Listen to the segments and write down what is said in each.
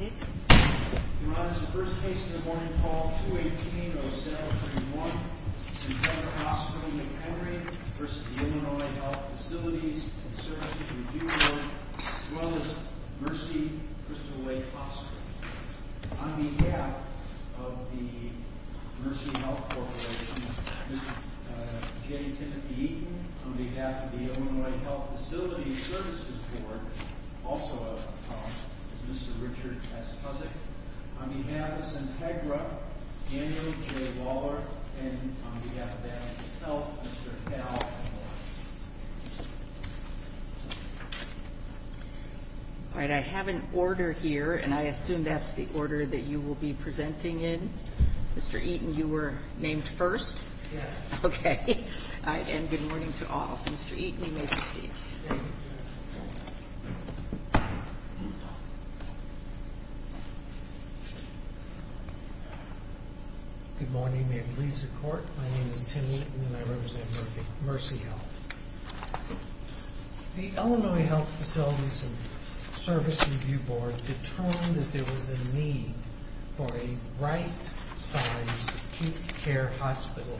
We run as the first case in the morning call 218-07-21 Centegra Hospital McHenry v. Illinois Health Facilities and Services Review Board as well as Mercy Crystal Lake Hospital On behalf of the Mercy Health Corporation Mr. J. Timothy Eaton On behalf of the Illinois Health Facilities Services Board Mr. Richard S. Cusick On behalf of Centegra Daniel J. Waller On behalf of the Illinois Health Facilities and Services Review Board Mr. Hal Mora On behalf of the Illinois Health Facilities and Services Review Board We have determined that there was a need for a right-sized acute care hospital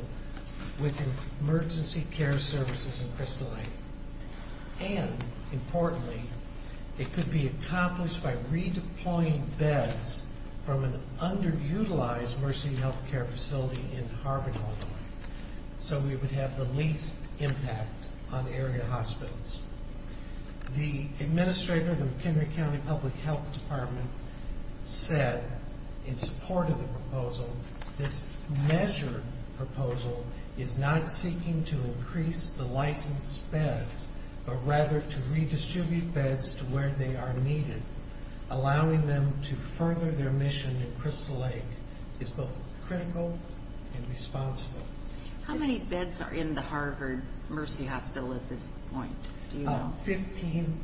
with emergency care services in Crystal Lake and, importantly, it could be accomplished by redeploying beds from an underutilized Mercy health care facility in Harvard, Illinois so we would have the least impact on area hospitals The administrator of the McHenry County Public Health Department said in support of the proposal this measured proposal is not seeking to increase the licensed beds but rather to redistribute beds to where they are needed allowing them to further their mission in Crystal Lake is both critical and responsible How many beds are in the Harvard Mercy hospital at this point? Fifteen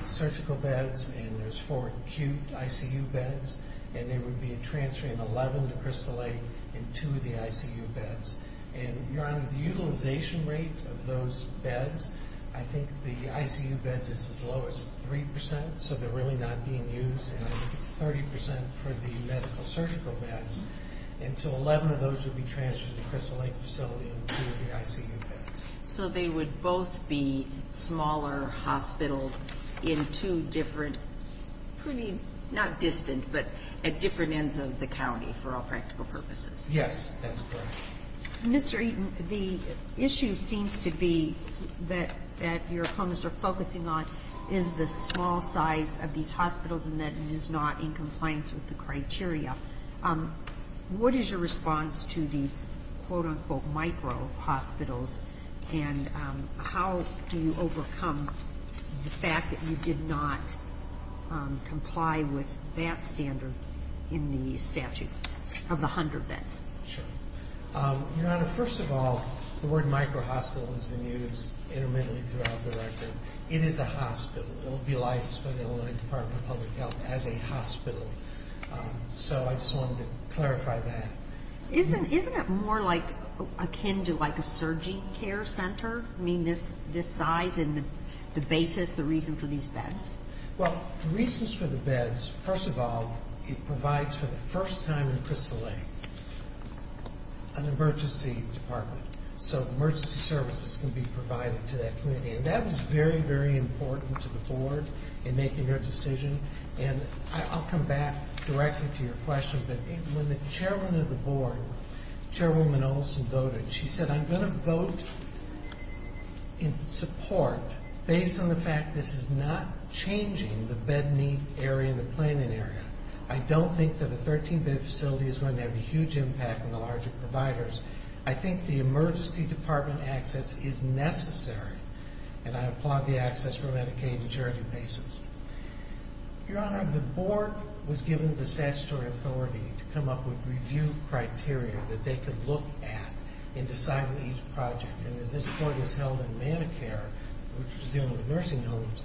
surgical beds and there's four acute ICU beds and there would be a transfer in 11 to Crystal Lake and two of the ICU beds and, Your Honor, the utilization rate of those beds I think the ICU beds is as low as 3% so they're really not being used and I think it's 30% for the medical surgical beds and so 11 of those would be transferred to the Crystal Lake facility and two of the ICU beds So they would both be smaller hospitals in two different pretty, not distant, but at different ends of the county for all practical purposes Yes, that's correct Mr. Eaton, the issue seems to be that your opponents are focusing on and that it is not in compliance with the criteria What is your response to these quote-unquote micro hospitals and how do you overcome the fact that you did not comply with that standard in the statute of the 100 beds? Sure Your Honor, first of all the word micro hospital has been used intermittently throughout the record It is a hospital It will be licensed by the Illinois Department of Public Health as a hospital So I just wanted to clarify that Isn't it more like akin to like a surgery care center? I mean this size and the basis, the reason for these beds? Well, the reasons for the beds First of all, it provides for the first time in Crystal Lake an emergency department So emergency services can be provided to that community and that was very, very important to the Board in making their decision and I'll come back directly to your question but when the chairman of the Board, Chairwoman Olson voted she said, I'm going to vote in support based on the fact this is not changing the bed need area and the planning area I don't think that a 13-bed facility is going to have a huge impact on the larger providers I think the emergency department access is necessary and I applaud the access for Medicaid and charity basis Your Honor, the Board was given the statutory authority to come up with review criteria that they could look at and decide on each project and as this Board is held in Medicare which is dealing with nursing homes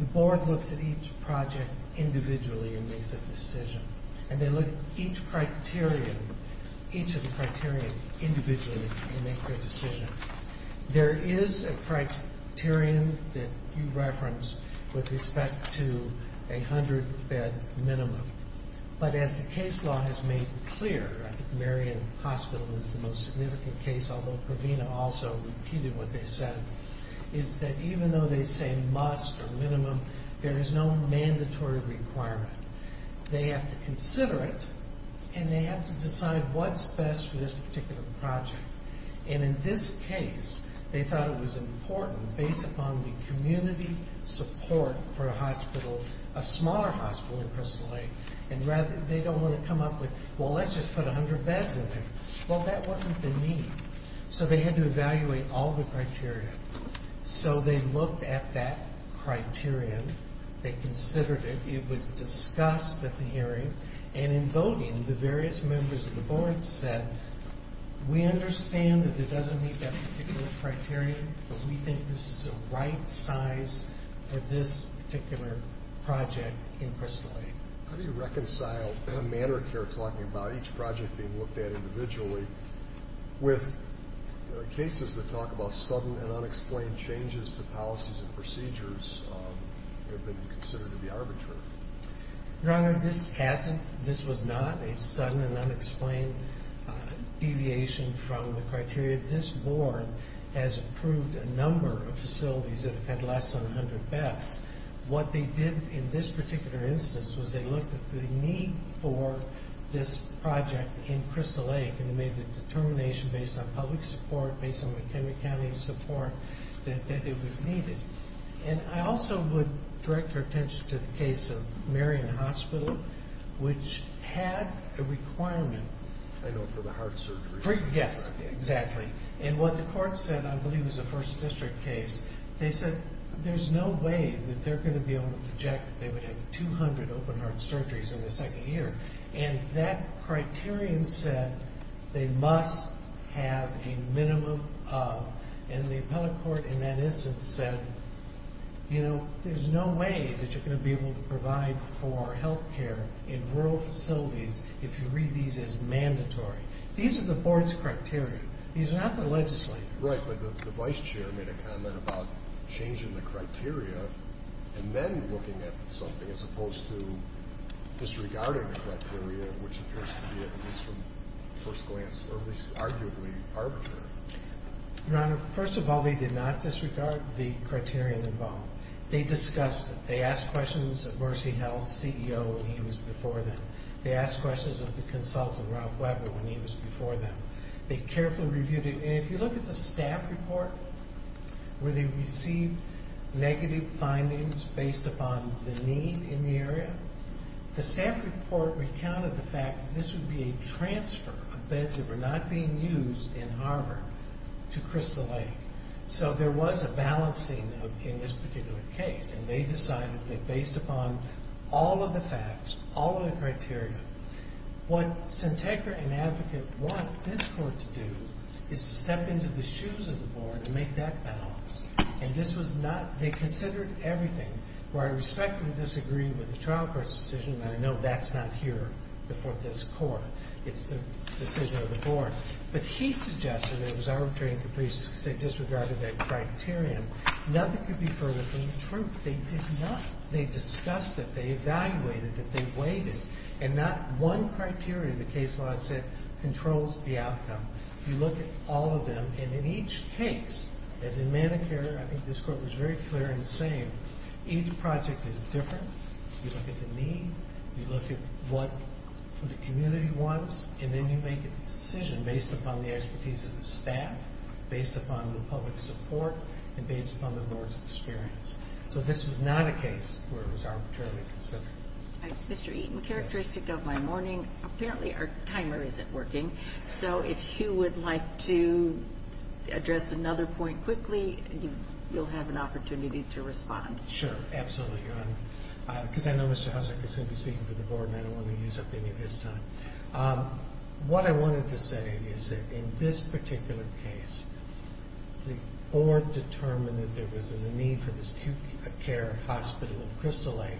the Board looks at each project individually and makes a decision and they look at each criterion each of the criterion individually and make their decision There is a criterion that you referenced with respect to a 100-bed minimum but as the case law has made clear I think Marion Hospital is the most significant case although Provena also repeated what they said is that even though they say must or minimum there is no mandatory requirement They have to consider it and they have to decide what's best for this particular project and in this case they thought it was important based upon the community support for a hospital a smaller hospital in Crystal Lake and rather they don't want to come up with well let's just put 100 beds in there well that wasn't the need so they had to evaluate all the criteria so they looked at that criterion they considered it, it was discussed at the hearing and in voting the various members of the Board said we understand that it doesn't meet that particular criterion but we think this is the right size for this particular project in Crystal Lake How do you reconcile a matter of care talking about each project being looked at individually with cases that talk about sudden and unexplained changes to policies and procedures that have been considered to be arbitrary? Your Honor, this wasn't a sudden and unexplained deviation from the criteria This Board has approved a number of facilities that have had less than 100 beds What they did in this particular instance was they looked at the need for this project in Crystal Lake and they made the determination based on public support based on the Henry County support that it was needed and I also would direct your attention to the case of Marion Hospital which had a requirement I know, for the heart surgery Yes, exactly and what the court said, I believe it was a First District case they said there's no way that they're going to be able to project that they would have 200 open heart surgeries in the second year and that criterion said they must have a minimum of and the appellate court in that instance said you know, there's no way that you're going to be able to provide for health care in rural facilities if you read these as mandatory These are the Board's criteria These are not the legislature's Right, but the Vice Chair made a comment about changing the criteria and then looking at something as opposed to disregarding the criteria which appears to be, at least from first glance or at least arguably arbitrary Your Honor, first of all, they did not disregard the criterion involved They discussed it They asked questions of Mercy Health's CEO when he was before them They asked questions of the consultant, Ralph Weber when he was before them They carefully reviewed it and if you look at the staff report where they received negative findings based upon the need in the area the staff report recounted the fact that this would be a transfer of beds that were not being used in Harvard to Crystal Lake So there was a balancing in this particular case and they decided that based upon all of the facts all of the criteria what Syntagra and Advocate want this Court to do is step into the shoes of the Board and make that balance and this was not They considered everything where I respectfully disagree with the trial court's decision and I know that's not here before this Court It's the decision of the Board but he suggested it was arbitrary and capricious because they disregarded that criterion Nothing could be further from the truth They did not They discussed it They evaluated it They weighed it and not one criterion the case law said controls the outcome You look at all of them and in each case as in Manicure I think this Court was very clear in saying each project is different You look at the need You look at what the community wants and then you make a decision based upon the expertise of the staff based upon the public support and based upon the Board's experience So this was not a case where it was arbitrarily considered Mr. Eaton Characteristic of my morning Apparently our timer isn't working So if you would like to address another point quickly you'll have an opportunity to respond Sure, absolutely Because I know Mr. Hussack is going to be speaking for the Board and I don't want to use up any of his time What I wanted to say is that in this particular case the Board determined that there was a need for this acute care hospital in Crystal Lake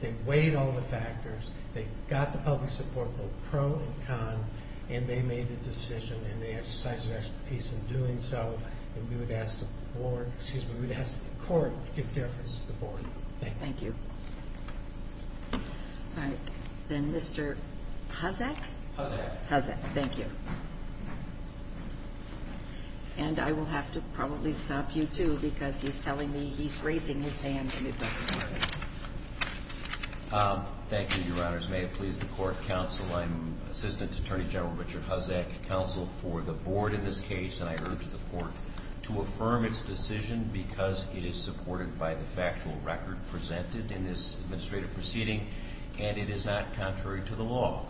They weighed all the factors They got the public support both pro and con and they made a decision and they exercised their expertise in doing so and we would ask the Board excuse me, we would ask the Court to give differences to the Board Thank you All right Then Mr. Hussack Hussack Hussack, thank you And I will have to probably stop you too because he's telling me he's raising his hand and it doesn't work Thank you, Your Honors May it please the Court Counsel, I'm Assistant Attorney General Richard Hussack Counsel for the Board in this case and I urge the Court to affirm its decision because it is supported by the factual record presented in this administrative proceeding and it is not contrary to the law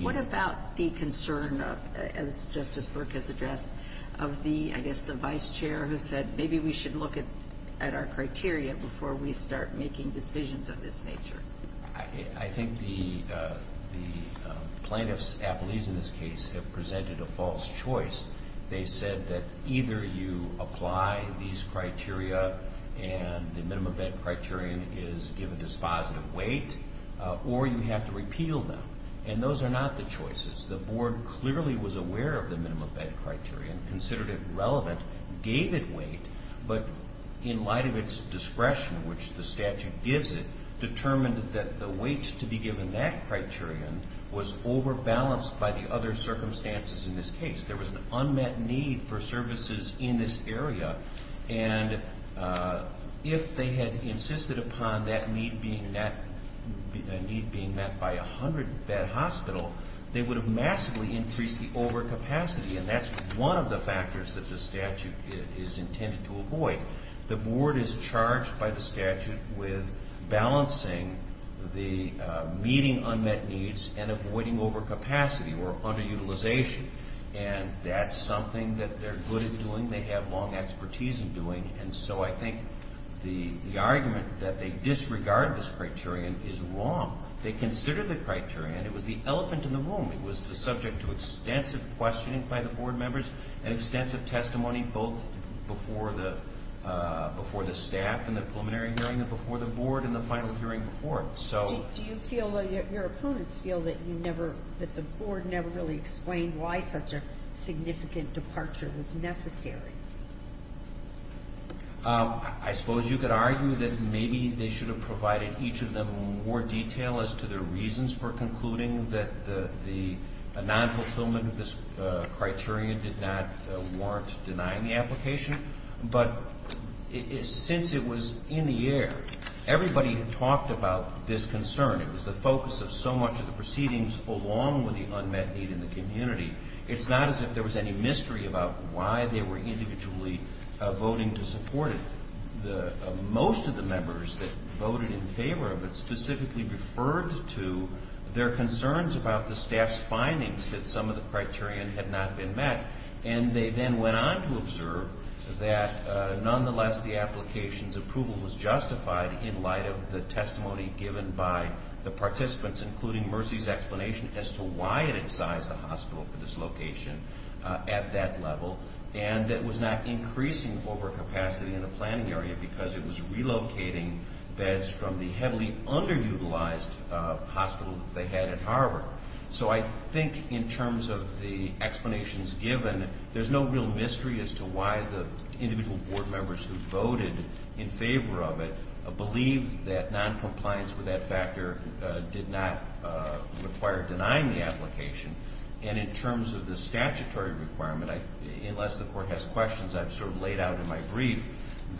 What about the concern as Justice Burke has addressed of the, I guess, the Vice Chair who said maybe we should look at our criteria before we start making decisions of this nature I think the plaintiffs' apologies in this case have presented a false choice They said that either you apply these criteria and the minimum bed criterion is given dispositive weight or you have to repeal them and those are not the choices The Board clearly was aware of the minimum bed criterion considered it relevant, gave it weight but in light of its discretion which the statute gives it determined that the weight to be given that criterion was overbalanced by the other circumstances in this case There was an unmet need for services in this area and if they had insisted upon that need being met by a 100-bed hospital they would have massively increased the overcapacity and that's one of the factors that the statute is intended to avoid The Board is charged by the statute with balancing the meeting unmet needs and avoiding overcapacity or underutilization and that's something that they're good at doing They have long expertise in doing and so I think the argument that they disregard this criterion is wrong They considered the criterion It was the elephant in the room It was the subject to extensive questioning by the Board members and extensive testimony both before the staff in the preliminary hearing and before the Board in the final hearing report Do you feel that your opponents feel that the Board never really explained why such a significant departure was necessary? I suppose you could argue that maybe they should have provided each of them with more detail as to their reasons for concluding that the non-fulfillment of this criterion did not warrant denying the application but since it was in the air everybody had talked about this concern It was the focus of so much of the proceedings along with the unmet need in the community It's not as if there was any mystery about why they were individually voting to support it Most of the members that voted in favor of it specifically referred to their concerns about the staff's findings that some of the criterion had not been met and they then went on to observe that nonetheless the application's approval was justified in light of the testimony given by the participants including Mercy's explanation as to why it incised the hospital for dislocation at that level and that it was not increasing overcapacity in the planning area because it was relocating beds from the heavily underutilized hospital that they had at Harvard So I think in terms of the explanations given there's no real mystery as to why the individual Board members who voted in favor of it believed that non-compliance with that factor did not require denying the application And in terms of the statutory requirement unless the Court has questions I've sort of laid out in my brief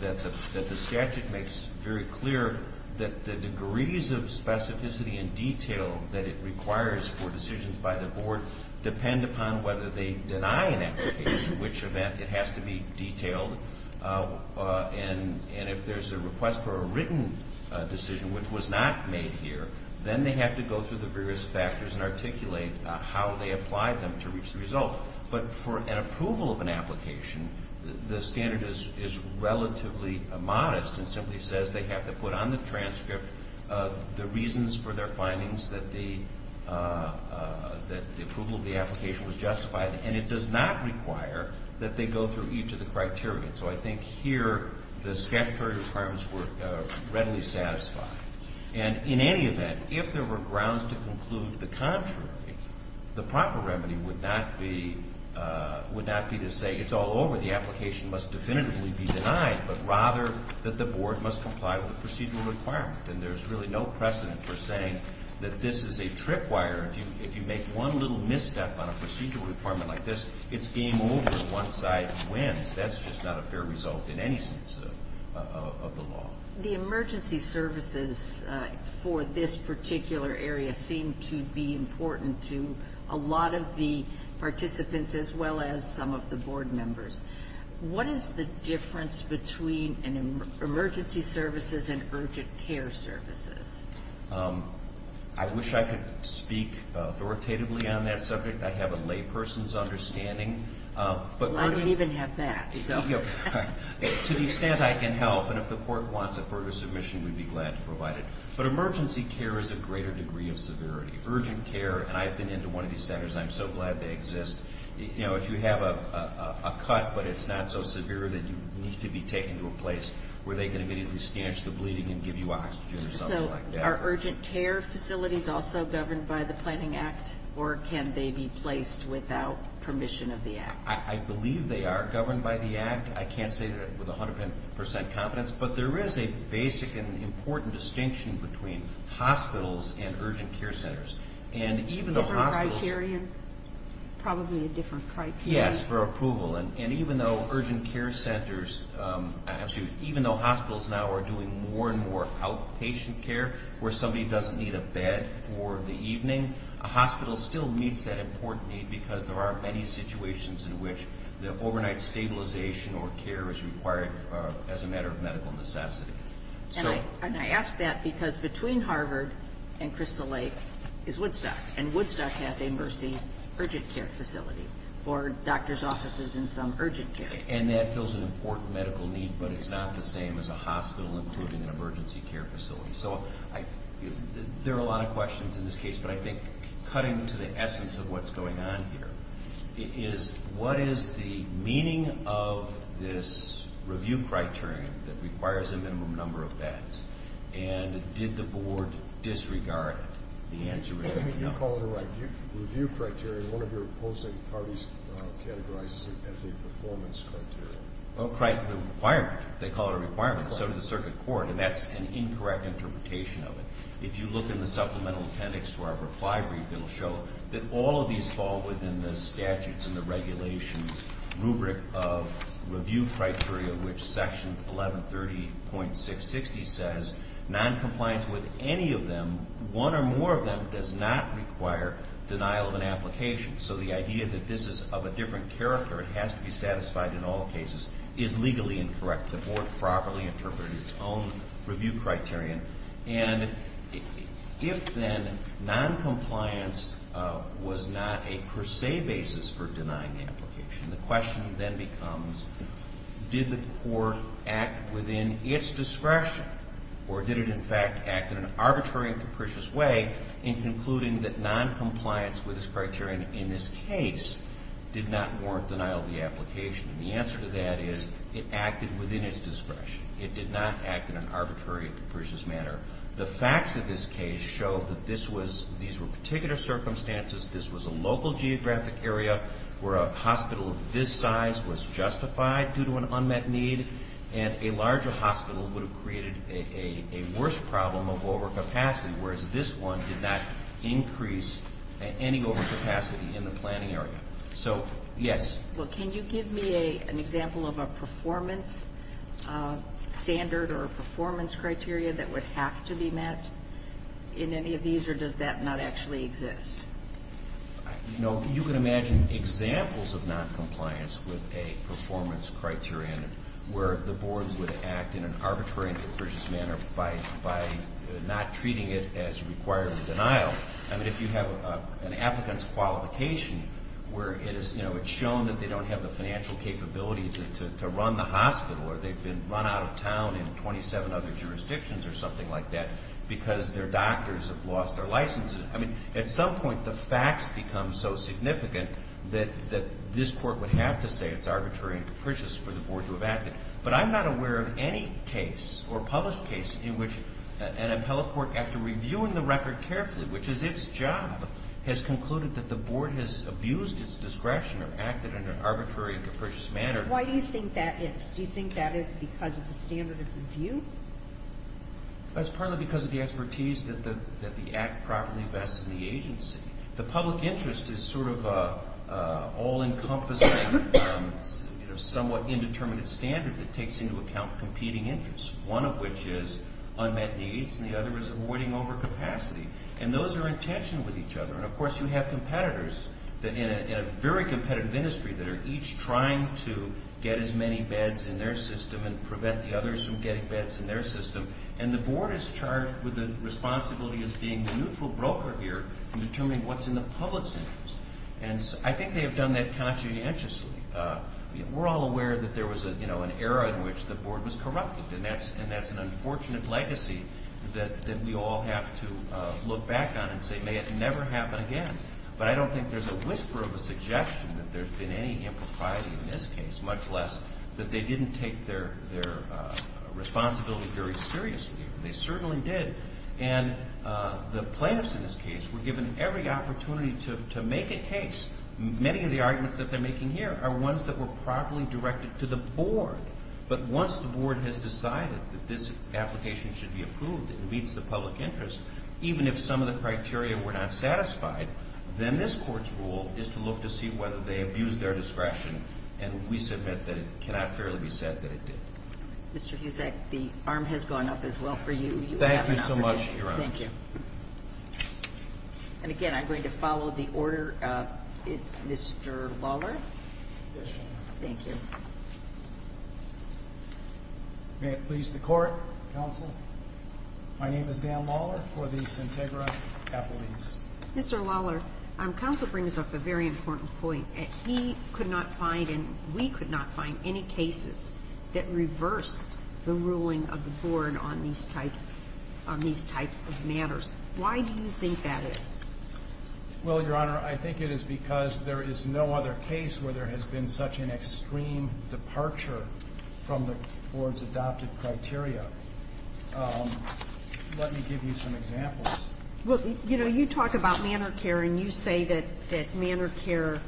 that the statute makes very clear that the degrees of specificity and detail that it requires for decisions by the Board depend upon whether they deny an application in which event it has to be detailed and if there's a request for a written decision which was not made here then they have to go through the various factors and articulate how they applied them to reach the result But for an approval of an application the standard is relatively modest and simply says they have to put on the transcript the reasons for their findings that the approval of the application was justified and it does not require that they go through each of the criteria So I think here the statutory requirements were readily satisfied And in any event if there were grounds to conclude the contrary the proper remedy would not be to say it's all over, the application must definitively be denied but rather that the Board must comply with the procedural requirement And there's really no precedent for saying that this is a tripwire If you make one little misstep on a procedural requirement like this it's game over, one side wins That's just not a fair result in any sense of the law The emergency services for this particular area seem to be important to a lot of the participants as well as some of the Board members What is the difference between emergency services and urgent care services? I wish I could speak authoritatively on that subject I have a lay person's understanding I don't even have that To the extent I can help and if the Court wants a further submission we'd be glad to provide it But emergency care is a greater degree of severity Urgent care, and I've been into one of these centers I'm so glad they exist If you have a cut but it's not so severe that you need to be taken to a place where they can immediately snatch the bleeding and give you oxygen or something like that Are urgent care facilities also governed by the Planning Act? Or can they be placed without permission of the Act? I believe they are governed by the Act I can't say that with 100% confidence But there is a basic and important distinction between hospitals and urgent care centers Different criterion? Probably a different criterion Yes, for approval And even though urgent care centers Even though hospitals now are doing more and more outpatient care where somebody doesn't need a bed for the evening a hospital still meets that important need because there are many situations in which the overnight stabilization or care is required as a matter of medical necessity And I ask that because between Harvard and Crystal Lake is Woodstock And Woodstock has a Mercy urgent care facility or doctor's offices in some urgent care And that fills an important medical need but it's not the same as a hospital including an emergency care facility So there are a lot of questions in this case But I think cutting to the essence of what's going on here is what is the meaning of this review criterion that requires a minimum number of beds And did the Board disregard the answer? You call it a review criterion One of your opposing parties categorizes it as a performance criterion A requirement They call it a requirement So does the Circuit Court And that's an incorrect interpretation of it If you look in the supplemental appendix to our reply brief it'll show that all of these fall within the statutes and the regulations rubric of review criteria which section 1130.660 says noncompliance with any of them one or more of them does not require denial of an application So the idea that this is of a different character it has to be satisfied in all cases is legally incorrect The Board properly interpreted its own review criterion And if then noncompliance was not a per se basis for denying the application the question then becomes did the Court act within its discretion or did it in fact act in an arbitrary and capricious way in concluding that noncompliance with this criterion in this case did not warrant denial of the application And the answer to that is it acted within its discretion It did not act in an arbitrary and capricious manner The facts of this case show that these were particular circumstances this was a local geographic area where a hospital of this size was justified due to an unmet need and a larger hospital would have created a worse problem of overcapacity whereas this one did not increase any overcapacity in the planning area So, yes Can you give me an example of a performance standard or performance criteria that would have to be met in any of these or does that not actually exist? You can imagine examples of noncompliance with a performance criterion where the Board would act in an arbitrary and capricious manner by not treating it as requiring denial If you have an applicant's qualification where it's shown that they don't have the financial capability to run the hospital or they've been run out of town in 27 other jurisdictions or something like that because their doctors have lost their licenses At some point, the facts become so significant that this Court would have to say it's arbitrary and capricious for the Board to have acted But I'm not aware of any case or published case in which an appellate court, after reviewing the record carefully which is its job has concluded that the Board has abused its discretion or acted in an arbitrary and capricious manner Why do you think that is? Do you think that is because of the standard of review? That's partly because of the expertise that the Act properly vests in the agency The public interest is sort of an all-encompassing somewhat indeterminate standard that takes into account competing interests One of which is unmet needs and the other is avoiding overcapacity And those are in tension with each other And, of course, you have competitors in a very competitive industry that are each trying to get as many beds in their system and prevent the others from getting beds in their system And the Board is charged with the responsibility as being the neutral broker here in determining what's in the public's interest And I think they have done that conscientiously We're all aware that there was an era in which the Board was corrupted And that's an unfortunate legacy that we all have to look back on and say, may it never happen again But I don't think there's a whisper of a suggestion that there's been any impropriety in this case much less that they didn't take their responsibility very seriously They certainly did And the plaintiffs in this case were given every opportunity to make a case Many of the arguments that they're making here are ones that were properly directed to the Board But once the Board has decided that this application should be approved and meets the public interest even if some of the criteria were not satisfied then this Court's role is to look to see whether they abused their discretion And we submit that it cannot fairly be said that it did Mr. Huzek, the arm has gone up as well for you Thank you so much, Your Honor Thank you And again, I'm going to follow the order It's Mr. Lawler Yes, Your Honor Thank you May it please the Court, Counsel My name is Dan Lawler for the Sintegra Appellees Mr. Lawler, Counsel brings up a very important point He could not find, and we could not find any cases that reversed the ruling of the Board on these types of matters Why do you think that is? Well, Your Honor, I think it is because there is no other case where there has been such an extreme departure from the Board's adopted criteria Let me give you some examples Well, you know, you talk about manor care and you say that manor care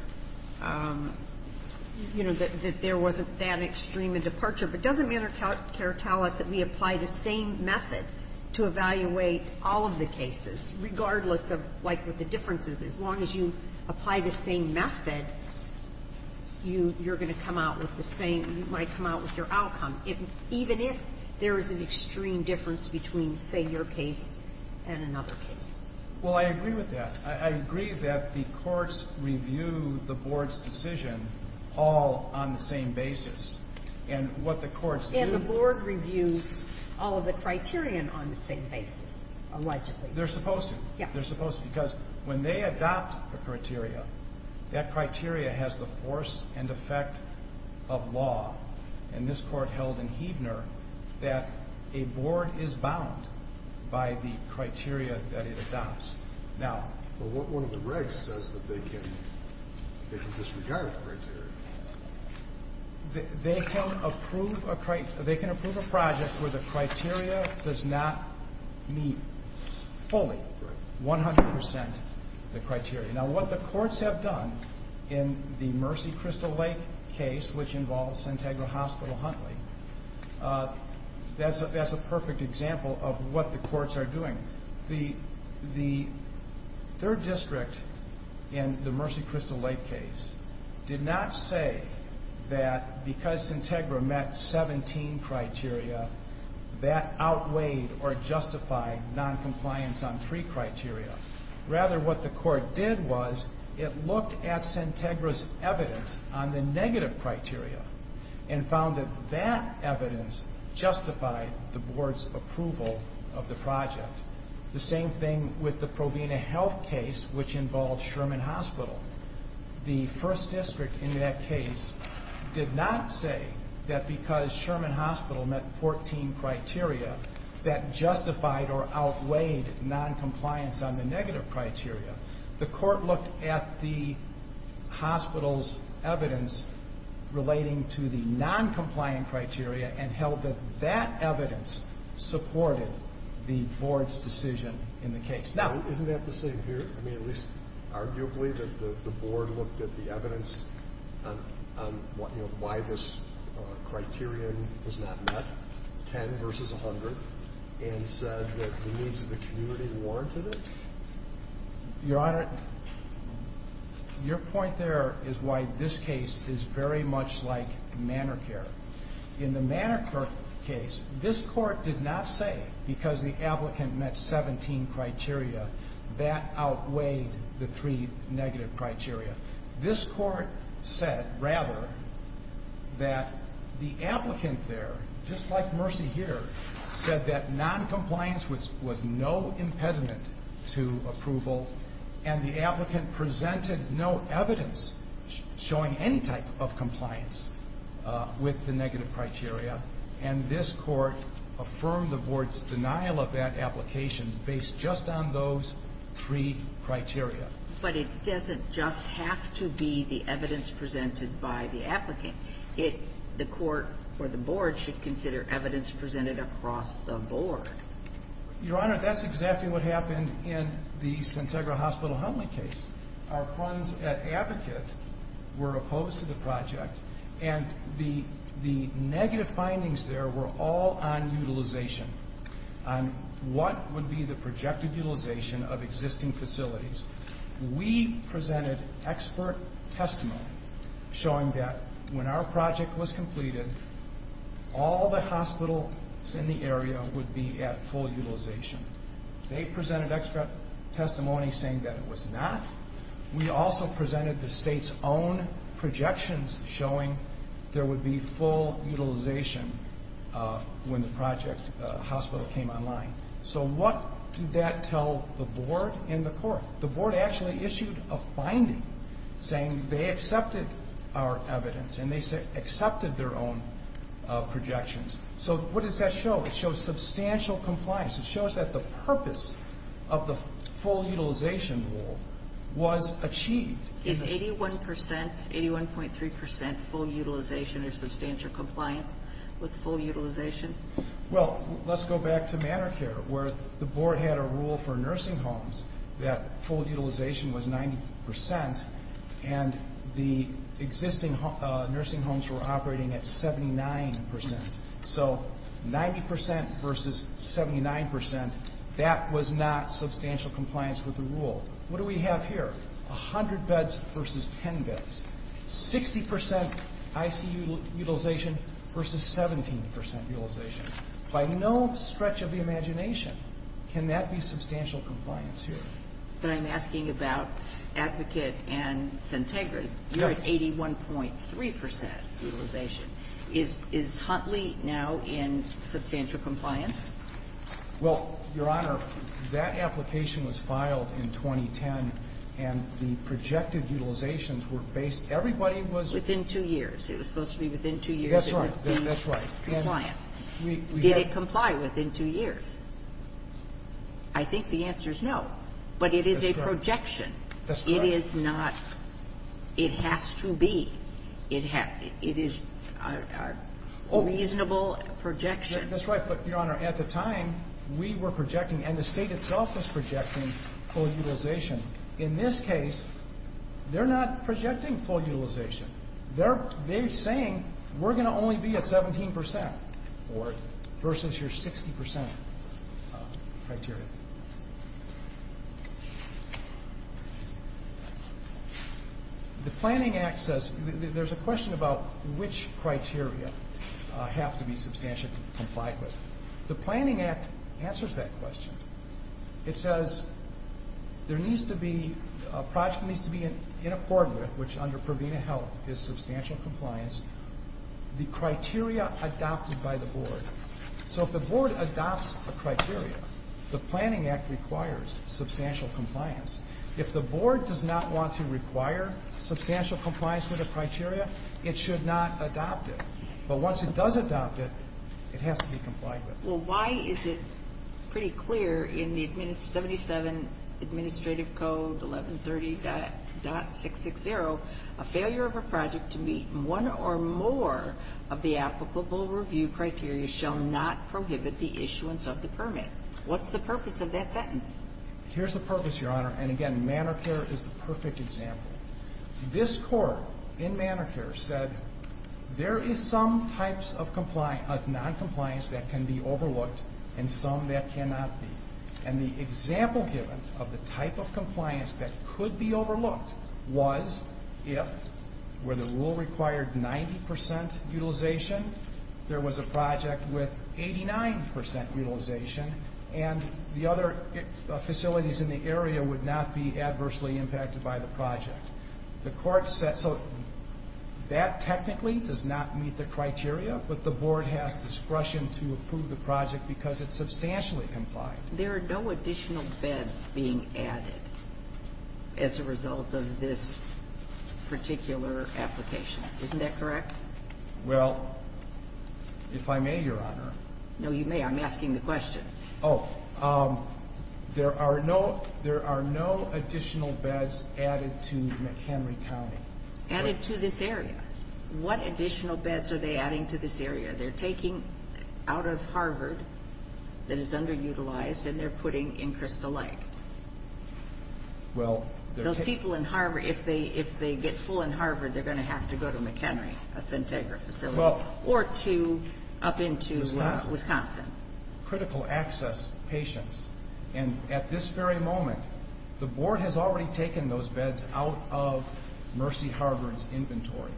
you know, that there wasn't that extreme a departure but doesn't manor care tell us that we apply the same method to evaluate all of the cases regardless of, like with the differences as long as you apply the same method you're going to come out with the same you might come out with your outcome even if there is an extreme difference between, say, your case and another case Well, I agree with that I agree that the Courts review the Board's decision all on the same basis and what the Courts do And the Board reviews all of the criterion on the same basis, allegedly They're supposed to They're supposed to because when they adopt a criteria that criteria has the force and effect of law and this Court held in Heavner that a Board is bound by the criteria that it adopts Now Well, one of the regs says that they can they can disregard the criteria They can approve a project where the criteria does not meet fully 100% the criteria Now, what the Courts have done in the Mercy Crystal Lake case which involves Sintegra Hospital-Huntley that's a perfect example of what the Courts are doing The Third District in the Mercy Crystal Lake case did not say that because Sintegra met 17 criteria that outweighed or justified noncompliance on 3 criteria Rather, what the Court did was it looked at Sintegra's evidence on the negative criteria and found that that evidence justified the Board's approval of the project The same thing with the Provena Health case which involved Sherman Hospital The First District in that case did not say that because Sherman Hospital met 14 criteria that justified or outweighed noncompliance on the negative criteria The Court looked at the hospital's evidence relating to the noncompliant criteria and held that that evidence supported the Board's decision in the case Now, isn't that the same here? I mean, at least arguably that the Board looked at the evidence on why this criterion was not met 10 versus 100 and said that the needs of the community warranted it Your Honor, your point there is why this case is very much like Manor Care In the Manor Care case this Court did not say because the applicant met 17 criteria that outweighed the 3 negative criteria This Court said, rather that the applicant there just like Mercy here said that noncompliance was no impediment to approval and the applicant presented no evidence showing any type of compliance with the negative criteria and this Court affirmed the Board's denial of that application based just on those 3 criteria But it doesn't just have to be the evidence presented by the applicant The Court or the Board should consider evidence presented across the Board Your Honor, that's exactly what happened in the Sintagra Hospital-Humley case Our friends at Advocate were opposed to the project and the negative findings there were all on utilization on what would be the projected utilization of existing facilities We presented expert testimony showing that when our project was completed all the hospitals in the area would be at full utilization They presented expert testimony saying that it was not We also presented the State's own projections showing there would be full utilization when the project hospital came online So what did that tell the Board and the Court? The Board actually issued a finding saying they accepted our evidence and they accepted their own projections So what does that show? It shows substantial compliance It shows that the purpose of the full utilization rule was achieved Is 81%, 81.3% full utilization or substantial compliance with full utilization? Well, let's go back to Manor Care where the Board had a rule for nursing homes that full utilization was 90% and the existing nursing homes were operating at 79% So 90% versus 79% that was not substantial compliance with the rule What do we have here? 100 beds versus 10 beds 60% ICU utilization versus 17% utilization By no stretch of the imagination can that be substantial compliance here? I'm asking about Advocate and Centegra You're at 81.3% utilization Is Huntley now in substantial compliance? Well, Your Honor, that application was filed in 2010 and the projected utilizations were based Everybody was Within two years It was supposed to be within two years That's right Did it comply within two years? I think the answer is no But it is a projection That's right It is not It has to be It is a reasonable projection That's right But, Your Honor, at the time we were projecting and the State itself was projecting full utilization In this case they're not projecting full utilization They're saying we're going to only be at 17% versus your 60% criteria The Planning Act says There's a question about which criteria have to be substantially complied with The Planning Act answers that question It says there needs to be a project needs to be in accord with which under Provena Health the criteria adopted by the Board So if the Board adopts a criteria the Planning Act requires substantial compliance If the Board does not want to require substantial compliance with a criteria it should not adopt it But once it does adopt it it has to be complied with Well, why is it pretty clear in the 77 Administrative Code 1130.660 a failure of a project to meet one or more of the applicable review criteria shall not prohibit the issuance of the permit What's the purpose of that sentence? Here's the purpose, Your Honor And again, Manor Care is the perfect example This Court in Manor Care said there is some types of noncompliance that can be overlooked and some that cannot be And the example given of the type of compliance that could be overlooked was if where the rule required 90% utilization there was a project with 89% utilization and the other facilities in the area would not be adversely impacted by the project The Court said that technically does not meet the criteria but the Board has discretion to approve the project because it's substantially complied There are no additional beds being added as a result of this particular application Isn't that correct? Well, if I may, Your Honor No, you may. I'm asking the question Oh, there are no There are no additional beds added to McHenry County Added to this area What additional beds are they adding to this area? They're taking out of Harvard that is underutilized and they're putting in Crystal Lake Well, there's Those people in Harvard If they get full in Harvard they're going to have to go to McHenry a Centegra facility or up into Wisconsin Critical access patients and at this very moment the Board has already taken those beds out of Mercy Harvard's inventory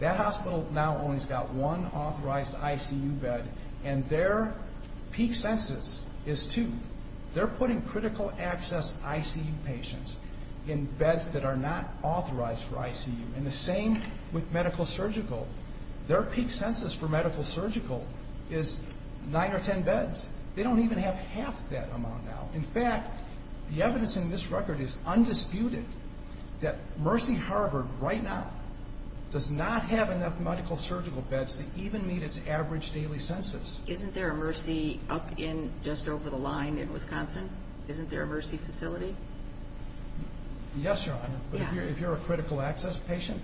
That hospital now only has got one authorized ICU bed and their peak census is two They're putting critical access ICU patients in beds that are not authorized for ICU and the same with medical-surgical Their peak census for medical-surgical is nine or ten beds They don't even have half that amount now In fact, the evidence in this record is undisputed that Mercy Harvard right now does not have enough medical-surgical beds to even meet its average daily census Isn't there a Mercy up in just over the line in Wisconsin? Isn't there a Mercy facility? Yes, Your Honor If you're a critical access patient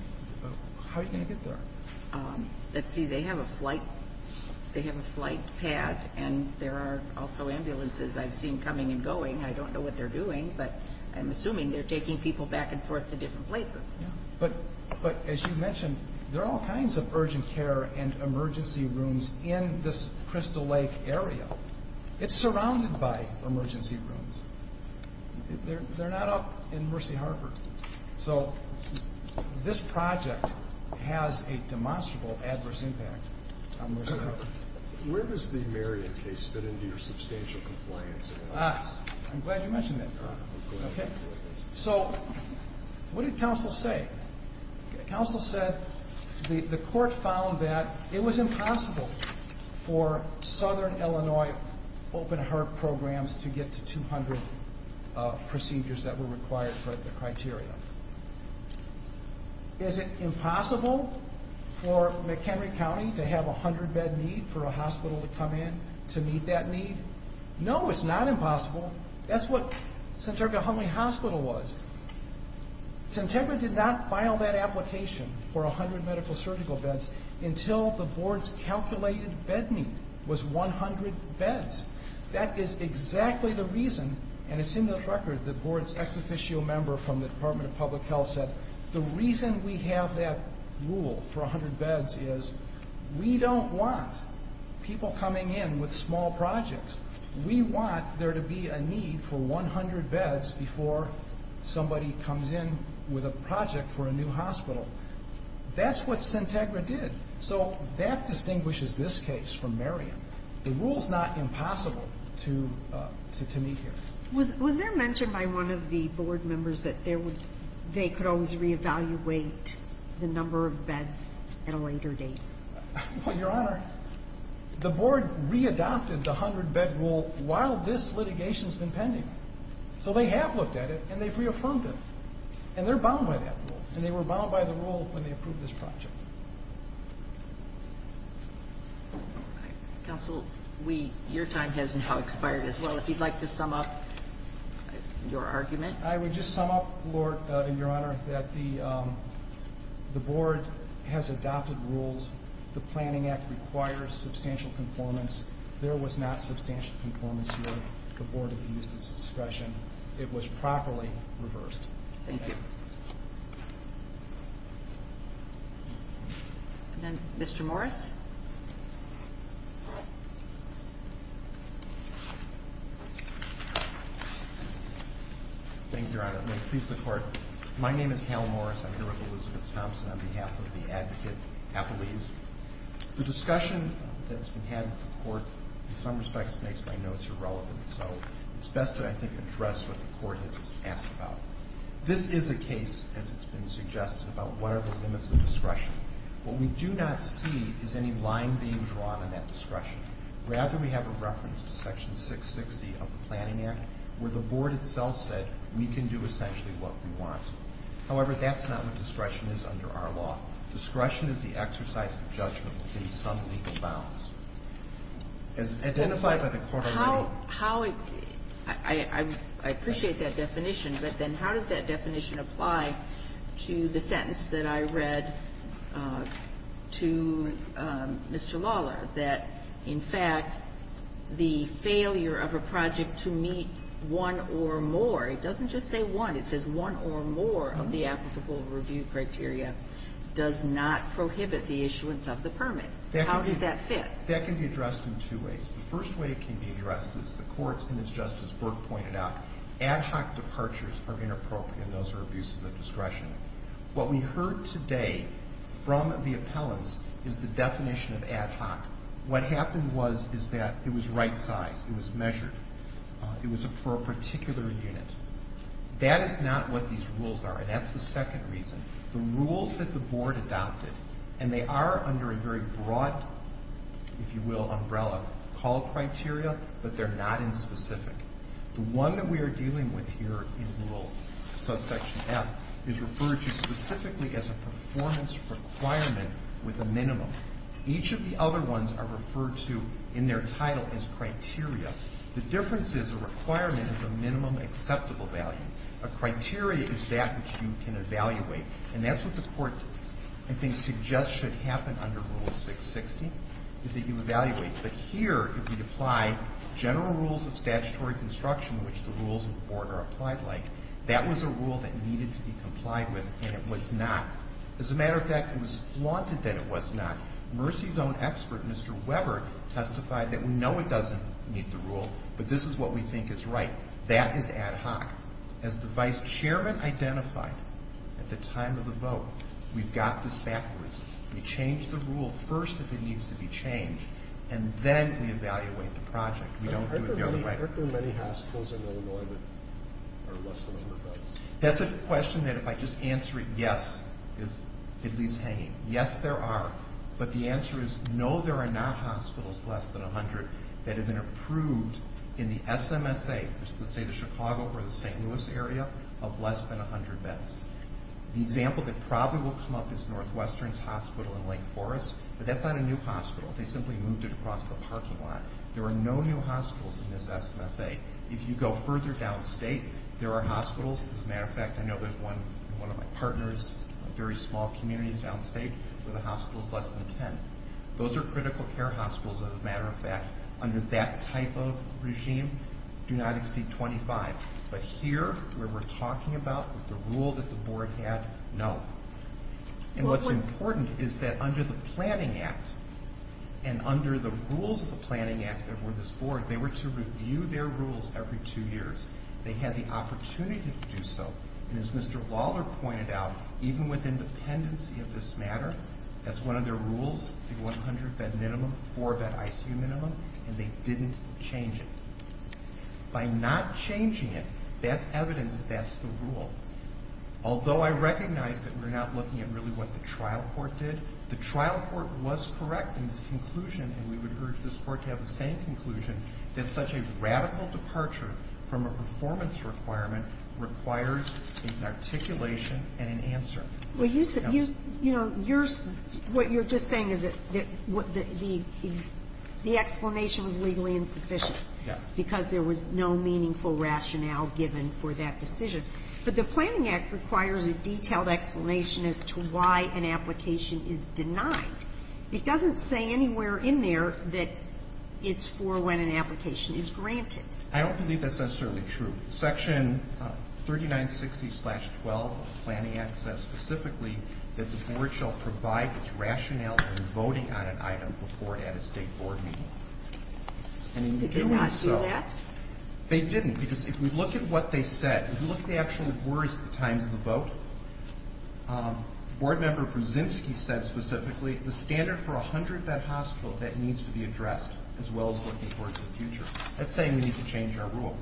how are you going to get there? Let's see, they have a flight pad and there are also ambulances I've seen coming and going I don't know what they're doing but I'm assuming they're taking people back and forth to different places But as you mentioned there are all kinds of urgent care and emergency rooms in this Crystal Lake area It's surrounded by emergency rooms They're not up in Mercy Harvard So this project has a demonstrable adverse impact on Mercy Harvard Where does the Marion case fit into your substantial compliance analysis? I'm glad you mentioned that So what did counsel say? Counsel said the court found that it was impossible for Southern Illinois open heart programs to get to 200 procedures that were required for the criteria Is it impossible for McHenry County to have 100 bed need for a hospital to come in to meet that need? No, it's not impossible That's what Santegra-Humley Hospital was Santegra did not file that application for 100 medical surgical beds until the board's calculated bed need was 100 beds That is exactly the reason and it's in this record the board's ex-officio member from the Department of Public Health said the reason we have that rule for 100 beds is we don't want people coming in with small projects We want there to be a need for 100 beds before somebody comes in with a project for a new hospital That's what Santegra did So that distinguishes this case from Marion The rule's not impossible to meet here Was there mention by one of the board members that they could always re-evaluate the number of beds at a later date? Well, Your Honor the board re-adopted the 100 bed rule while this litigation's been pending So they have looked at it and they've reaffirmed it and they're bound by that rule and they were bound by the rule when they approved this project Counsel, your time has now expired as well If you'd like to sum up your argument I would just sum up, Your Honor that the board has adopted rules The Planning Act requires substantial conformance There was not substantial conformance where the board had used its discretion It was properly reversed Thank you Mr. Morris Thank you, Your Honor May it please the Court My name is Hal Morris I'm here with Elizabeth Thompson on behalf of the advocate, Apolise The discussion that's been had with the Court in some respects makes my notes irrelevant So it's best to, I think, address what the Court has asked about This is a case, as it's been suggested about what are the limits of discretion What we do not see is any line being drawn in that discretion Rather, we have a reference to Section 660 of the Planning Act where the board itself said we can do essentially what we want However, that's not what discretion is under our law Discretion is the exercise of judgment in some legal bounds As identified by the Court already I appreciate that definition but then how does that definition apply to the sentence that I read to Mr. Lawler that, in fact, the failure of a project to meet one or more It doesn't just say one It says one or more of the applicable review criteria does not prohibit the issuance of the permit How does that fit? That can be addressed in two ways The first way it can be addressed is the Court's, and as Justice Burke pointed out ad hoc departures are inappropriate and those are abuses of discretion What we heard today from the appellants is the definition of ad hoc What happened was is that it was right size It was measured It was for a particular unit That is not what these rules are That's the second reason The rules that the board adopted and they are under a very broad if you will, umbrella call criteria but they're not in specific The one that we are dealing with here in Rule subsection F is referred to specifically as a performance requirement with a minimum Each of the other ones are referred to in their title as criteria The difference is the requirement is a minimum acceptable value A criteria is that which you can evaluate and that's what the Court I think suggests should happen under Rule 660 is that you evaluate but here if you apply general rules of statutory construction which the rules of the board are applied like that was a rule that needed to be complied with and it was not As a matter of fact it was flaunted that it was not Mercy's own expert, Mr. Weber testified that we know it doesn't meet the rule but this is what we think is right That is ad hoc As the vice chairman identified at the time of the vote We change the rule first if it needs to be changed and then we evaluate the project Aren't there many hospitals in Illinois that are less than 100 beds? That's a question that if I just answer it Yes, it leaves hanging Yes, there are but the answer is No, there are not hospitals less than 100 that have been approved in the SMSA Let's say the Chicago or the St. Louis area of less than 100 beds The example that probably will come up is Northwestern's hospital in Lake Forest but that's not a new hospital They simply moved it across the parking lot There are no new hospitals in this SMSA If you go further downstate there are hospitals As a matter of fact, I know there's one in one of my partners in a very small community downstate where the hospital is less than 10 Those are critical care hospitals As a matter of fact under that type of regime do not exceed 25 But here, where we're talking about with the rule that the board had No And what's important is that under the Planning Act and under the rules of the Planning Act that were this board they were to review their rules every two years They had the opportunity to do so and as Mr. Lawler pointed out even with independency of this matter that's one of their rules the 100 bed minimum four bed ICU minimum and they didn't change it By not changing it that's evidence that that's the rule Although I recognize that we're not looking at really what the trial court did The trial court was correct in this conclusion and we would urge this court to have the same conclusion that such a radical departure from a performance requirement requires an articulation and an answer Well you said you know what you're just saying is that the explanation was legally insufficient Yes Because there was no meaningful rationale given for that decision But the Planning Act requires a detailed explanation as to why an application is denied It doesn't say anywhere in there that it's for when an application is granted I don't believe that's necessarily true Section 3960-12 of the Planning Act says specifically that the board shall provide its rationale in voting on an item before it had a state board meeting Did they not do that? They didn't because if we look at what they said if you look at the actual words at the times of the vote board member Brzezinski said specifically the standard for a 100-bed hospital that needs to be addressed as well as looking towards the future That's saying we need to change our rule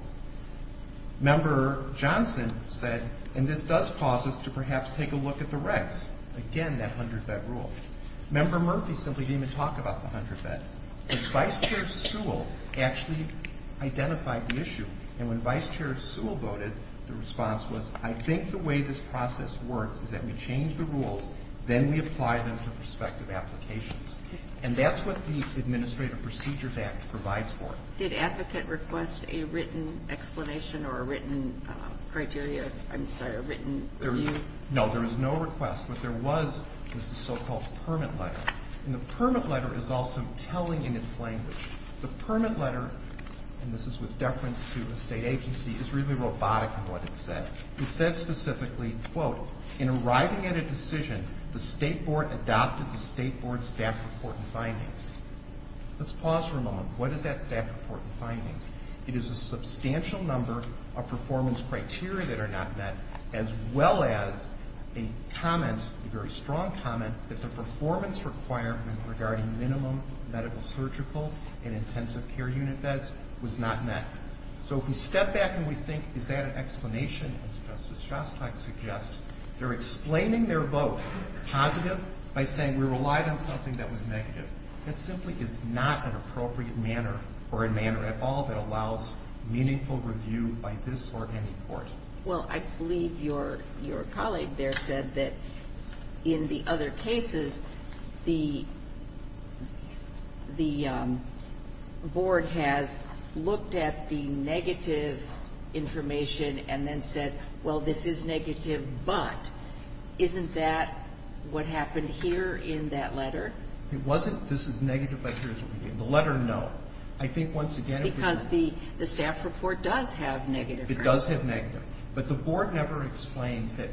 Member Johnson said and this does cause us to perhaps take a look at the recs again that 100-bed rule Member Murphy simply didn't even talk about the 100 beds But Vice Chair Sewell actually identified the issue and when Vice Chair Sewell voted the response was I think the way this process works is that we change the rules then we apply them to prospective applications and that's what the Administrative Procedures Act provides for Did advocate request a written explanation or a written criteria I'm sorry, a written review? No, there was no request What there was was the so-called permit letter and the permit letter is also telling in its language The permit letter and this is with deference to the state agency is really robotic in what it said It said specifically In arriving at a decision the State Board adopted the State Board Staff Report and Findings Let's pause for a moment What is that Staff Report and Findings? It is a substantial number of performance criteria that are not met as well as a comment a very strong comment that the performance requirement regarding minimum medical, surgical and intensive care unit beds was not met So if we step back and we think is that an explanation as Justice Shostak suggests they're explaining their vote positive by saying we relied on something that was negative That simply is not an appropriate manner or a manner at all that allows meaningful review by this or any court Well, I believe your colleague there said that in the other cases the the board has looked at the negative information and then said well, this is negative but isn't that what happened here in that letter? It wasn't this is negative but here's what we did The letter, no I think once again Because the the Staff Report does have negative information It does have negative But the board never explains that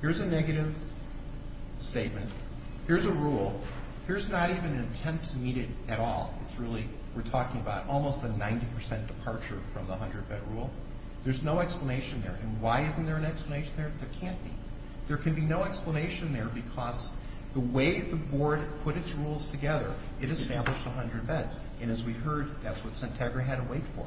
here's a negative statement here's a rule here's not even an attempt to meet it at all It's really we're talking about almost a 90% departure from the 100 bed rule There's no explanation there and why isn't there an explanation there? There can't be There can be no explanation there because the way the board put its rules together it established 100 beds and as we heard that's what Centegra had to wait for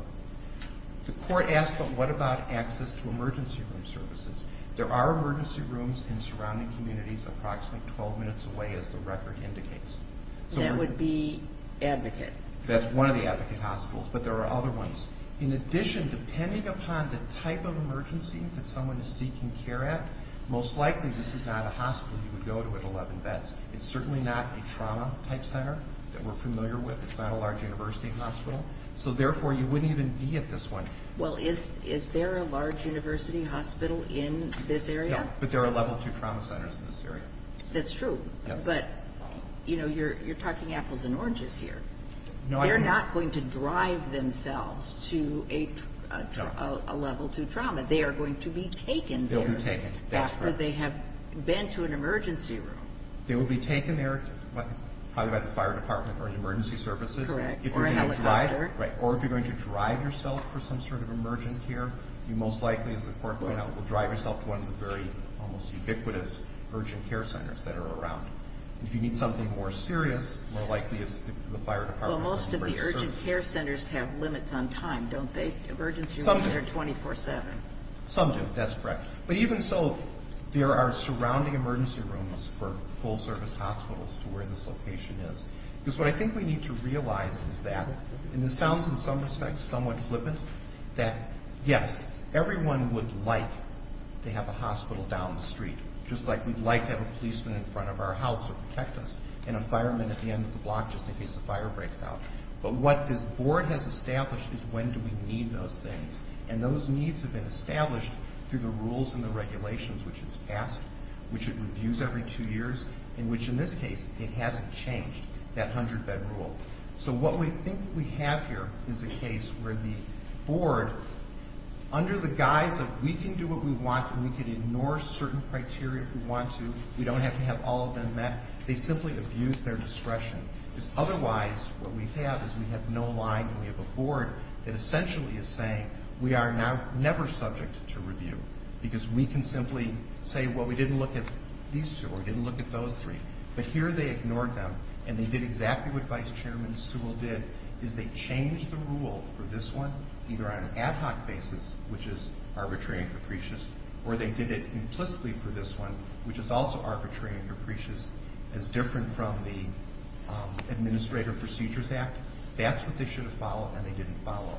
The court asked but what about access to emergency room services? There are emergency rooms in surrounding communities approximately 12 minutes away as the record indicates That would be Advocate That's one of the Advocate hospitals but there are other ones In addition depending upon the type of emergency that someone is seeking care at most likely this is not a hospital you would go to with 11 beds It's certainly not a trauma type center that we're familiar with It's not a large university hospital So therefore you wouldn't even be at this one Well is there a large university hospital in this area? No but there are level 2 trauma centers in this area That's true but you know you're talking apples and oranges here They're not going to drive themselves to a level 2 trauma They are going to be taken there They'll be taken That's correct After they have been to an emergency room They will be taken there probably by the fire department or emergency services Correct Or a helicopter Right Or if you're going to drive yourself for some sort of emergent care you most likely as the court pointed out will drive yourself to one of the very almost ubiquitous urgent care centers that are around If you need something more you can go to emergency rooms all the time don't they? Emergency rooms are 24-7 Some do That's correct But even so there are surrounding emergency rooms for full service hospitals to where this location is Because what I think we need to realize is that and this sounds in some respects somewhat flippant that yes everyone would like to have a hospital down the street just like we'd like to have a policeman in front of our house or protect us and a fireman at the end of the block just in case a fire breaks out But what this board has established is when do we need those things and those needs have been established through the rules and the regulations which it's passed which it reviews every two years in which in this case it hasn't changed that hundred bed rule So what we think we have here is a case where the board under the guise of we can do what we want and we can ignore certain criteria if we want to we don't have to have all of them met they simply abuse their discretion because otherwise what we have is we have no line and we have a board that essentially is saying we are never subject to review because we can simply say well we didn't look at these two or we didn't look at those three but here they ignored them and they did exactly what Vice Chairman Sewell did is they changed the rule for this one either on an arbitrary level which is also arbitrary as different from the Administrative Procedures Act that's what they should have followed and they didn't follow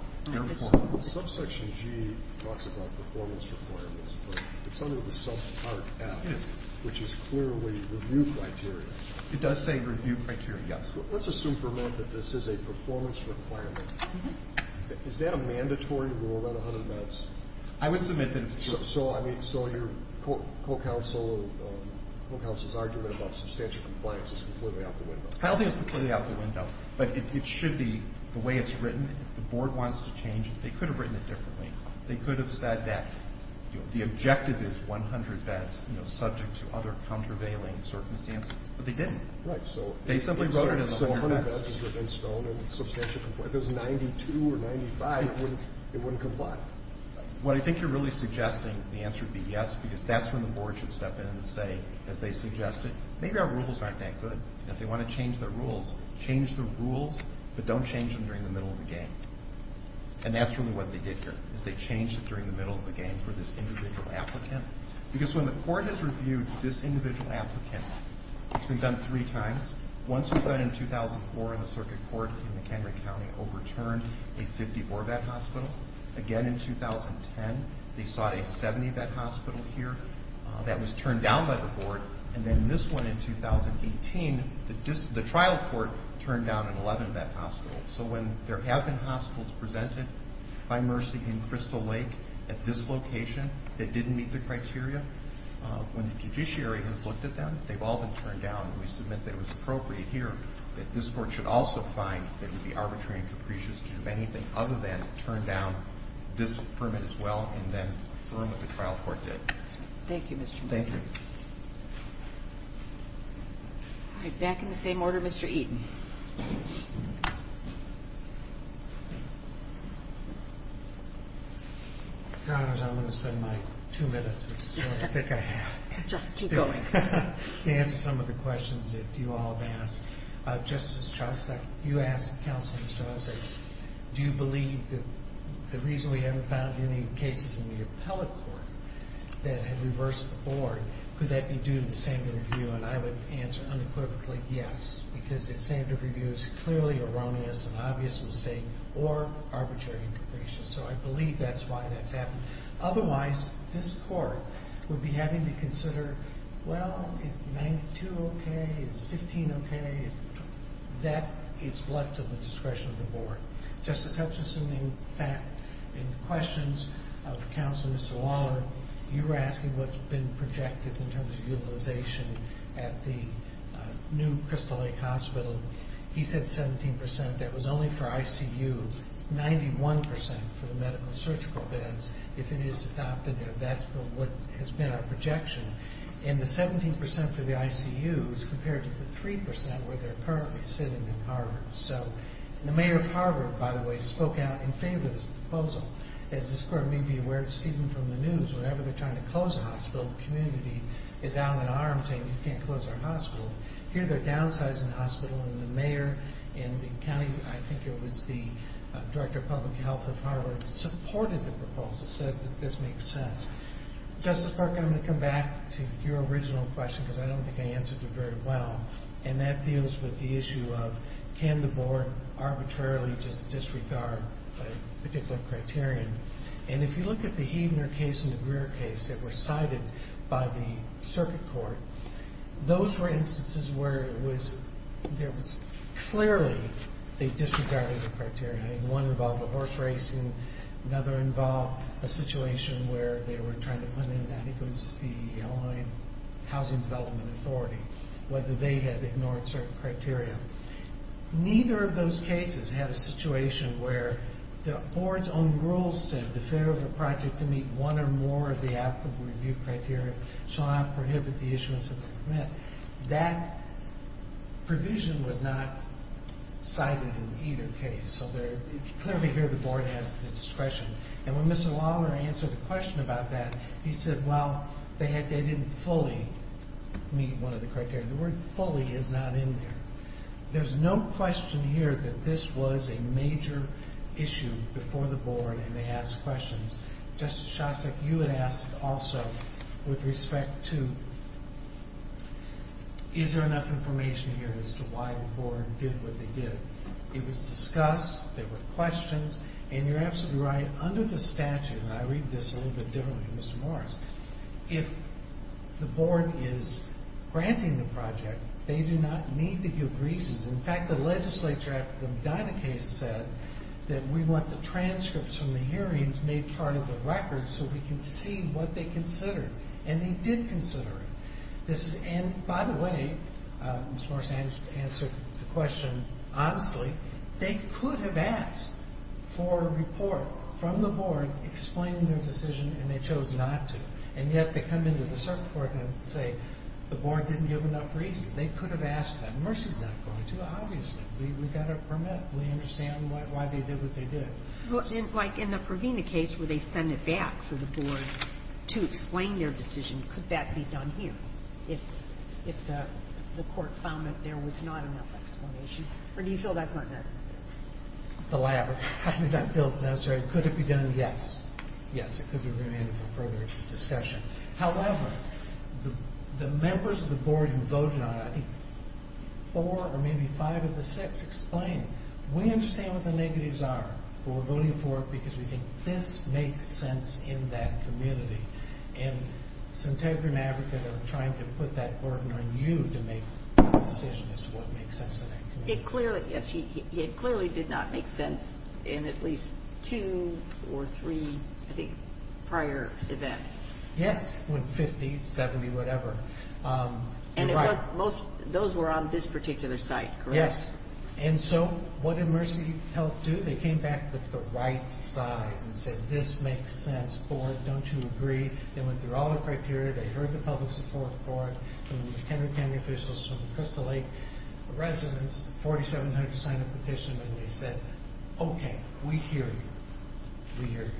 Subsection G talks about performance requirements but it's under the sub part F which is clearly review criteria It does say review criteria yes Let's assume for a minute that this is a performance requirement is that a mandatory rule around a hundred beds around a hundred beds I don't think it's completely out the window but it should be the way it's written the board wants to change it they could have written it differently they could have said that the objective is 100 beds subject to other countervailing circumstances but they didn't they simply wrote it in the sub section if it was 92 or 95 it wouldn't comply I think you're really suggesting the answer would be yes because that's where the board should step in and say as they suggested maybe our rules aren't that good and if they want to change their rules change the rules but don't change them during the middle of the game and that's exactly what they did here they changed it during the middle of the game for this individual applicant because when the court has reviewed this individual applicant it's been done three times once it was done in 2004 in the circuit court in McHenry County overturned a 54 bed hospital again in 2004 by mercy in Crystal Lake at this location that didn't meet the criteria when the judiciary has looked at them they've all been turned down and we submit that it was appropriate here that this court should also find that it would be arbitrary and capricious to do that. I'm going to spend my two minutes which is what I think I have to answer some of the questions that you all have asked. Justice Shostak you asked counsel do you believe that the reason we haven't found any cases in the appellate court that have reversed the board could that be due to the standard review and I would answer unequivocally yes because the standard review is clearly erroneous and an obvious mistake or arbitrary and capricious so I believe that's why that's happened otherwise this court would be having to consider well is 92 okay is 15 okay that is left to the discretion of the board Justice Hutchison in fact in questions of counsel Mr. Waller you were asking what's been projected in terms of utilization at the new Crystal Lake hospital he said 17% that was only for ICU 91% for the medical surgical beds if it is adopted that's what has been our projection and the 17% for the ICU is compared to the 3% where they're currently sitting in Harvard so the mayor of Harvard by the way spoke out in favor of this proposal as this court may be aware of Steven from the news whenever they're trying to close a hospital the community is out in arms saying you can't close our hospital here they're downsizing the hospital and the mayor and the county I think it was the director of public health of Harvard supported the proposal said that this makes sense Justice Parker I'm going to come back to your original question because I don't think I answered it very well and that deals with the issue of can the board arbitrarily disregard a particular criterion and if you look at the Heidner case and the Greer case that were cited by the board another involved a situation where they were trying to put in that it was the housing development authority whether they had ignored certain criteria neither of those cases had a situation where the board's own rules said the failure of a project to meet one or more of the criteria that the board has discretion and when Mr. Lawler answered the question about that he said well they didn't fully meet one of the criteria. The word fully is not in there. There's no question here that this was a major issue before the board and they asked questions. Justice Shostak you had asked also with respect to is there enough information here as to why the board did what they did. It was discussed, there were questions, and you're absolutely right under the statute, and I read this a little bit differently from Mr. Morris, if the board is granting the project they do not need to give reasons. In fact the legislature after the Medina case said that we want the transcripts from the hearings made part of the records so we can see what they considered. And they did consider it. And by the way Mr. Morris answered the question honestly, they could have asked for a report from the board explaining their decision and they chose not to. And yet they come into the circuit court and say the board didn't give enough reason. They could have asked that. Mercy is not going to, obviously. We got a permit. We understand why they did what they did. Like in the Provina case where they send it back to the board to explain their decision. Could that be done here? If the court found that there was not enough explanation? Or do you feel that's not necessary? Could it be done? Yes. However, the members of the board who voted on it, four or maybe five of the six, explained, we understand what the negatives are, but we're voting for it because we think this makes sense in that community. And Centegrian Advocate are trying to put that burden on you to make a decision as to what makes sense in that community. It clearly did not make sense in at least two or three prior events. Yes, when 50, 70, whatever. And those were on this particular site, correct? Yes. And so, what did Mercy Health do? They came back with the right side and said, this makes sense, board, don't you agree? They went okay. We hear you. We hear you.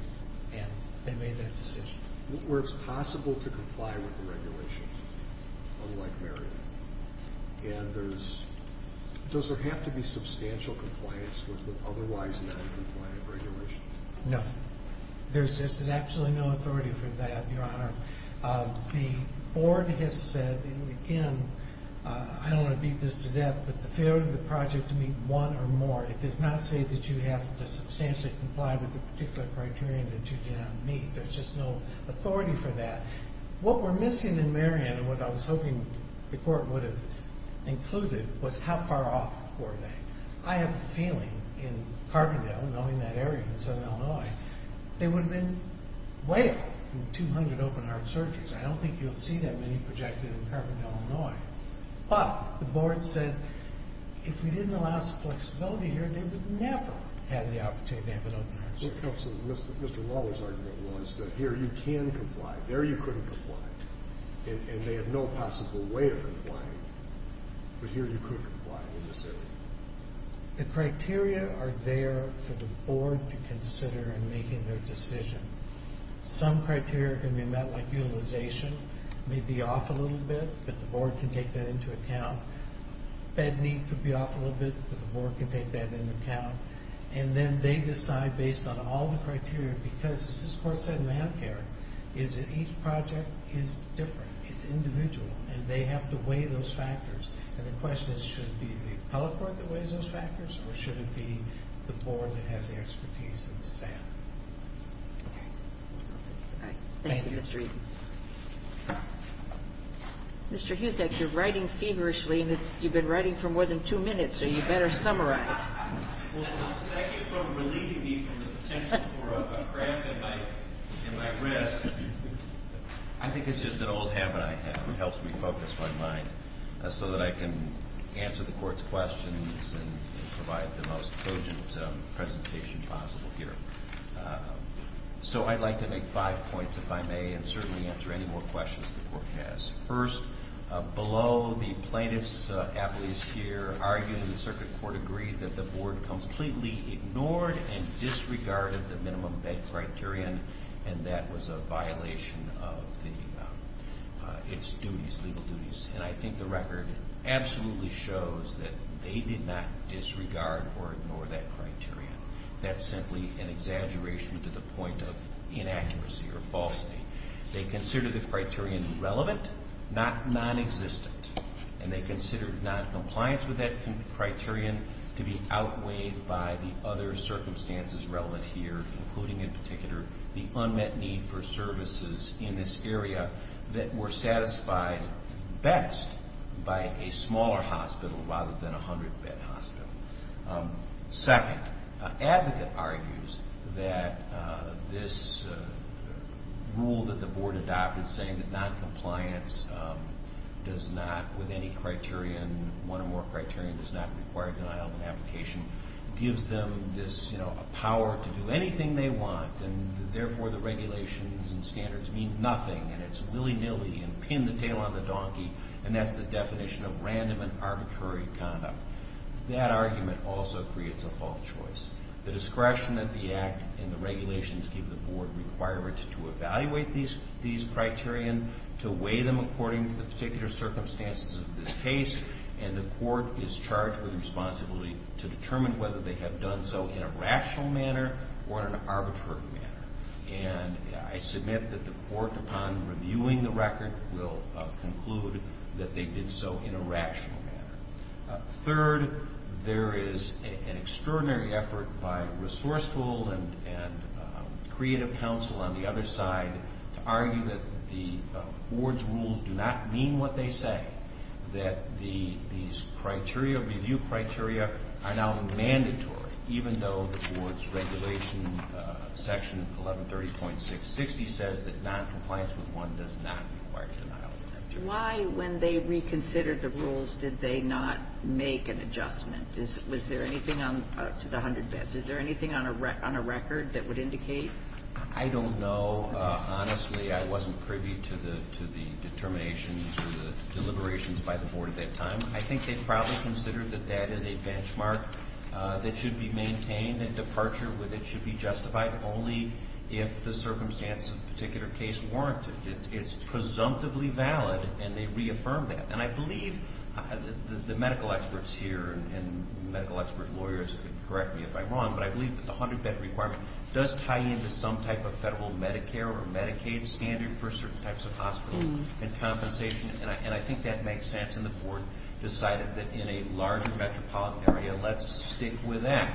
And they made that decision. Where it's possible to comply with the regulations unlike Maryland. And there's, does there have to be substantial compliance with the otherwise noncompliant regulations? No. There's absolutely no authority for that, your honor. The board has said, again, I don't want to beat this to death, but the failure of the project to meet one or more, it does not say that you have to substantially comply with the particular criterion that you did not meet. There's just no authority for that. What we're missing in Maryland, what I was hoping the court would have included, was how far off were they. I have a feeling in Carbondale, knowing that area in southern Illinois, they would have been way off from 200 open-heart surgeries. I don't think you'll see that many projected in Carbondale, Illinois. But the board said if we didn't allow some flexibility here, they would never have the opportunity to have an opportunity to about how to comply. But here, you could comply. The criteria are there for the board to consider in making their decision. Some criteria can be met like utilization may be off a little bit, but the board can take that into account. Bed bed big unit. As you know, each project is different. It's individual, and they have to weigh those factors, and the question is should it be the appellate board that weighs those factors, or should it be the board that has the expertise and the staff? Thank you, Mr. Eaton. Mr. Husek, you're writing feverishly, and you've been writing for more than two minutes, so you better summarize. I think it's just an old habit I have that helps me focus my mind so that I can answer the court's questions and provide the most cogent presentation possible here. So I'd like to make five points, if I may, and certainly more questions the court has. First, below, the plaintiff's appellees here argued, and the circuit court agreed, that the board completely ignored and disregarded the minimum bed criterion, and that was a violation of its legal duties, and I think the record absolutely shows that they did not disregard or ignore that criterion. That's simply an exaggeration to the point of inaccuracy or falsity. They considered the criterion relevant, not non-existent, and they considered non-compliance with that criterion, and that was made by the other circumstances relevant here, including, in particular, the unmet need for services in this area that were satisfied best by a smaller hospital rather than a 100-bed hospital. Second, an advocate argues that this rule that the board adopted saying that non-compliance does not with any criterion, one or more criterion, does not require denial of an application, gives them this power to do anything they want, and therefore the regulations and standards mean nothing, and it's willy-nilly and pin the tail on the donkey, and that's the definition of random and arbitrary conduct. That argument also creates a false choice. The discretion of the Act and the regulations give the board requirements to evaluate these criterion, to weigh them according to the particular circumstances of this case, and the court is charged with responsibility to determine whether they have done so in a rational manner or in an arbitrary manner, and I submit that the court upon reviewing the record will conclude that they did so in a rational manner. Third, there is an extraordinary effort by resourceful and creative counsel on the other side to argue that the board's rules do not mean what they say, that these criteria, review criteria, are now mandatory, even though the board's regulation section 1130.660 says that noncompliance with one does not require denial of criteria. Why, when they reconsidered the rules, did they not make an adjustment? Is there anything on a record that would indicate? I don't know. Honestly, I wasn't privy to the determinations or the deliberations by the board at that time. I think they probably considered that that is a benchmark that should be maintained and departure with it should be justified, only if the circumstance of the particular case warranted. It's presumptively valid, and they reaffirmed that. And I the medical experts here and medical expert lawyers can correct me if I'm wrong, but I believe that the 100 bed requirement does tie into some type of federal Medicare or Medicaid standard for certain types of hospitals and compensations. And I think that makes sense and the board decided that in a larger metropolitan area, let's stick with that.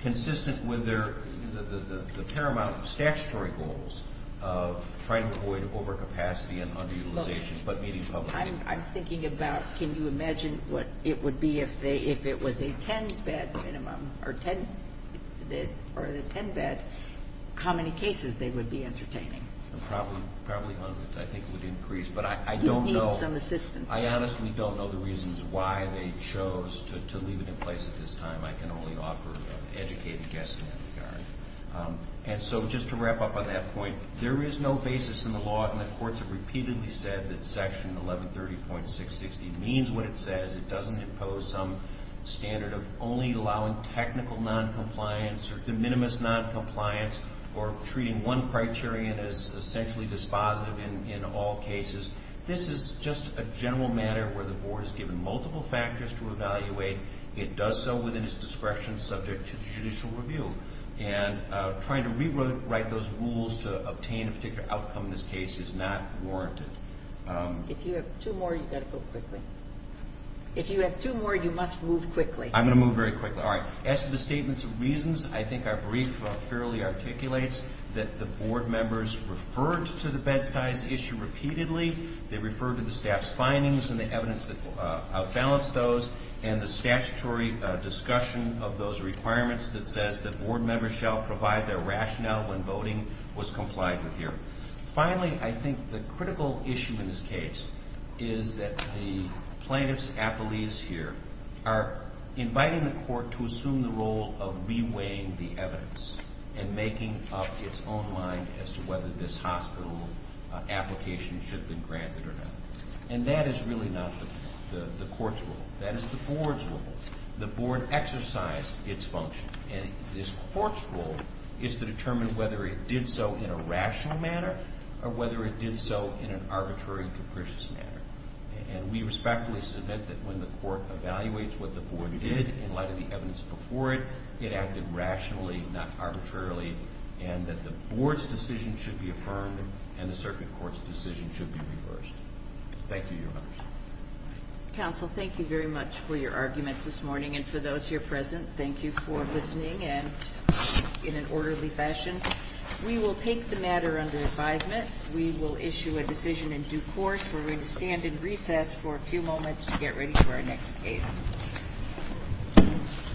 Consistent with the paramount statutory goals of trying to avoid overcapacity and underutilization but meeting public needs. I'm thinking about can you make more affordable for people who need it. I don't know the reasons why they chose to leave it in place at this time. I can only offer educated guesstimates. There is no basis in the law and the courts have repeatedly said that section 1130.660 means what it says. It doesn't impose some standard of only allowing technical noncompliance or treating one criterion as essentially dispositive in all cases. This is just a general matter where the board has to determine whether it did it did so in a rational manner. I don't know the reasons why the courts have decided to leave it there. why the courts have left it there. Thank you.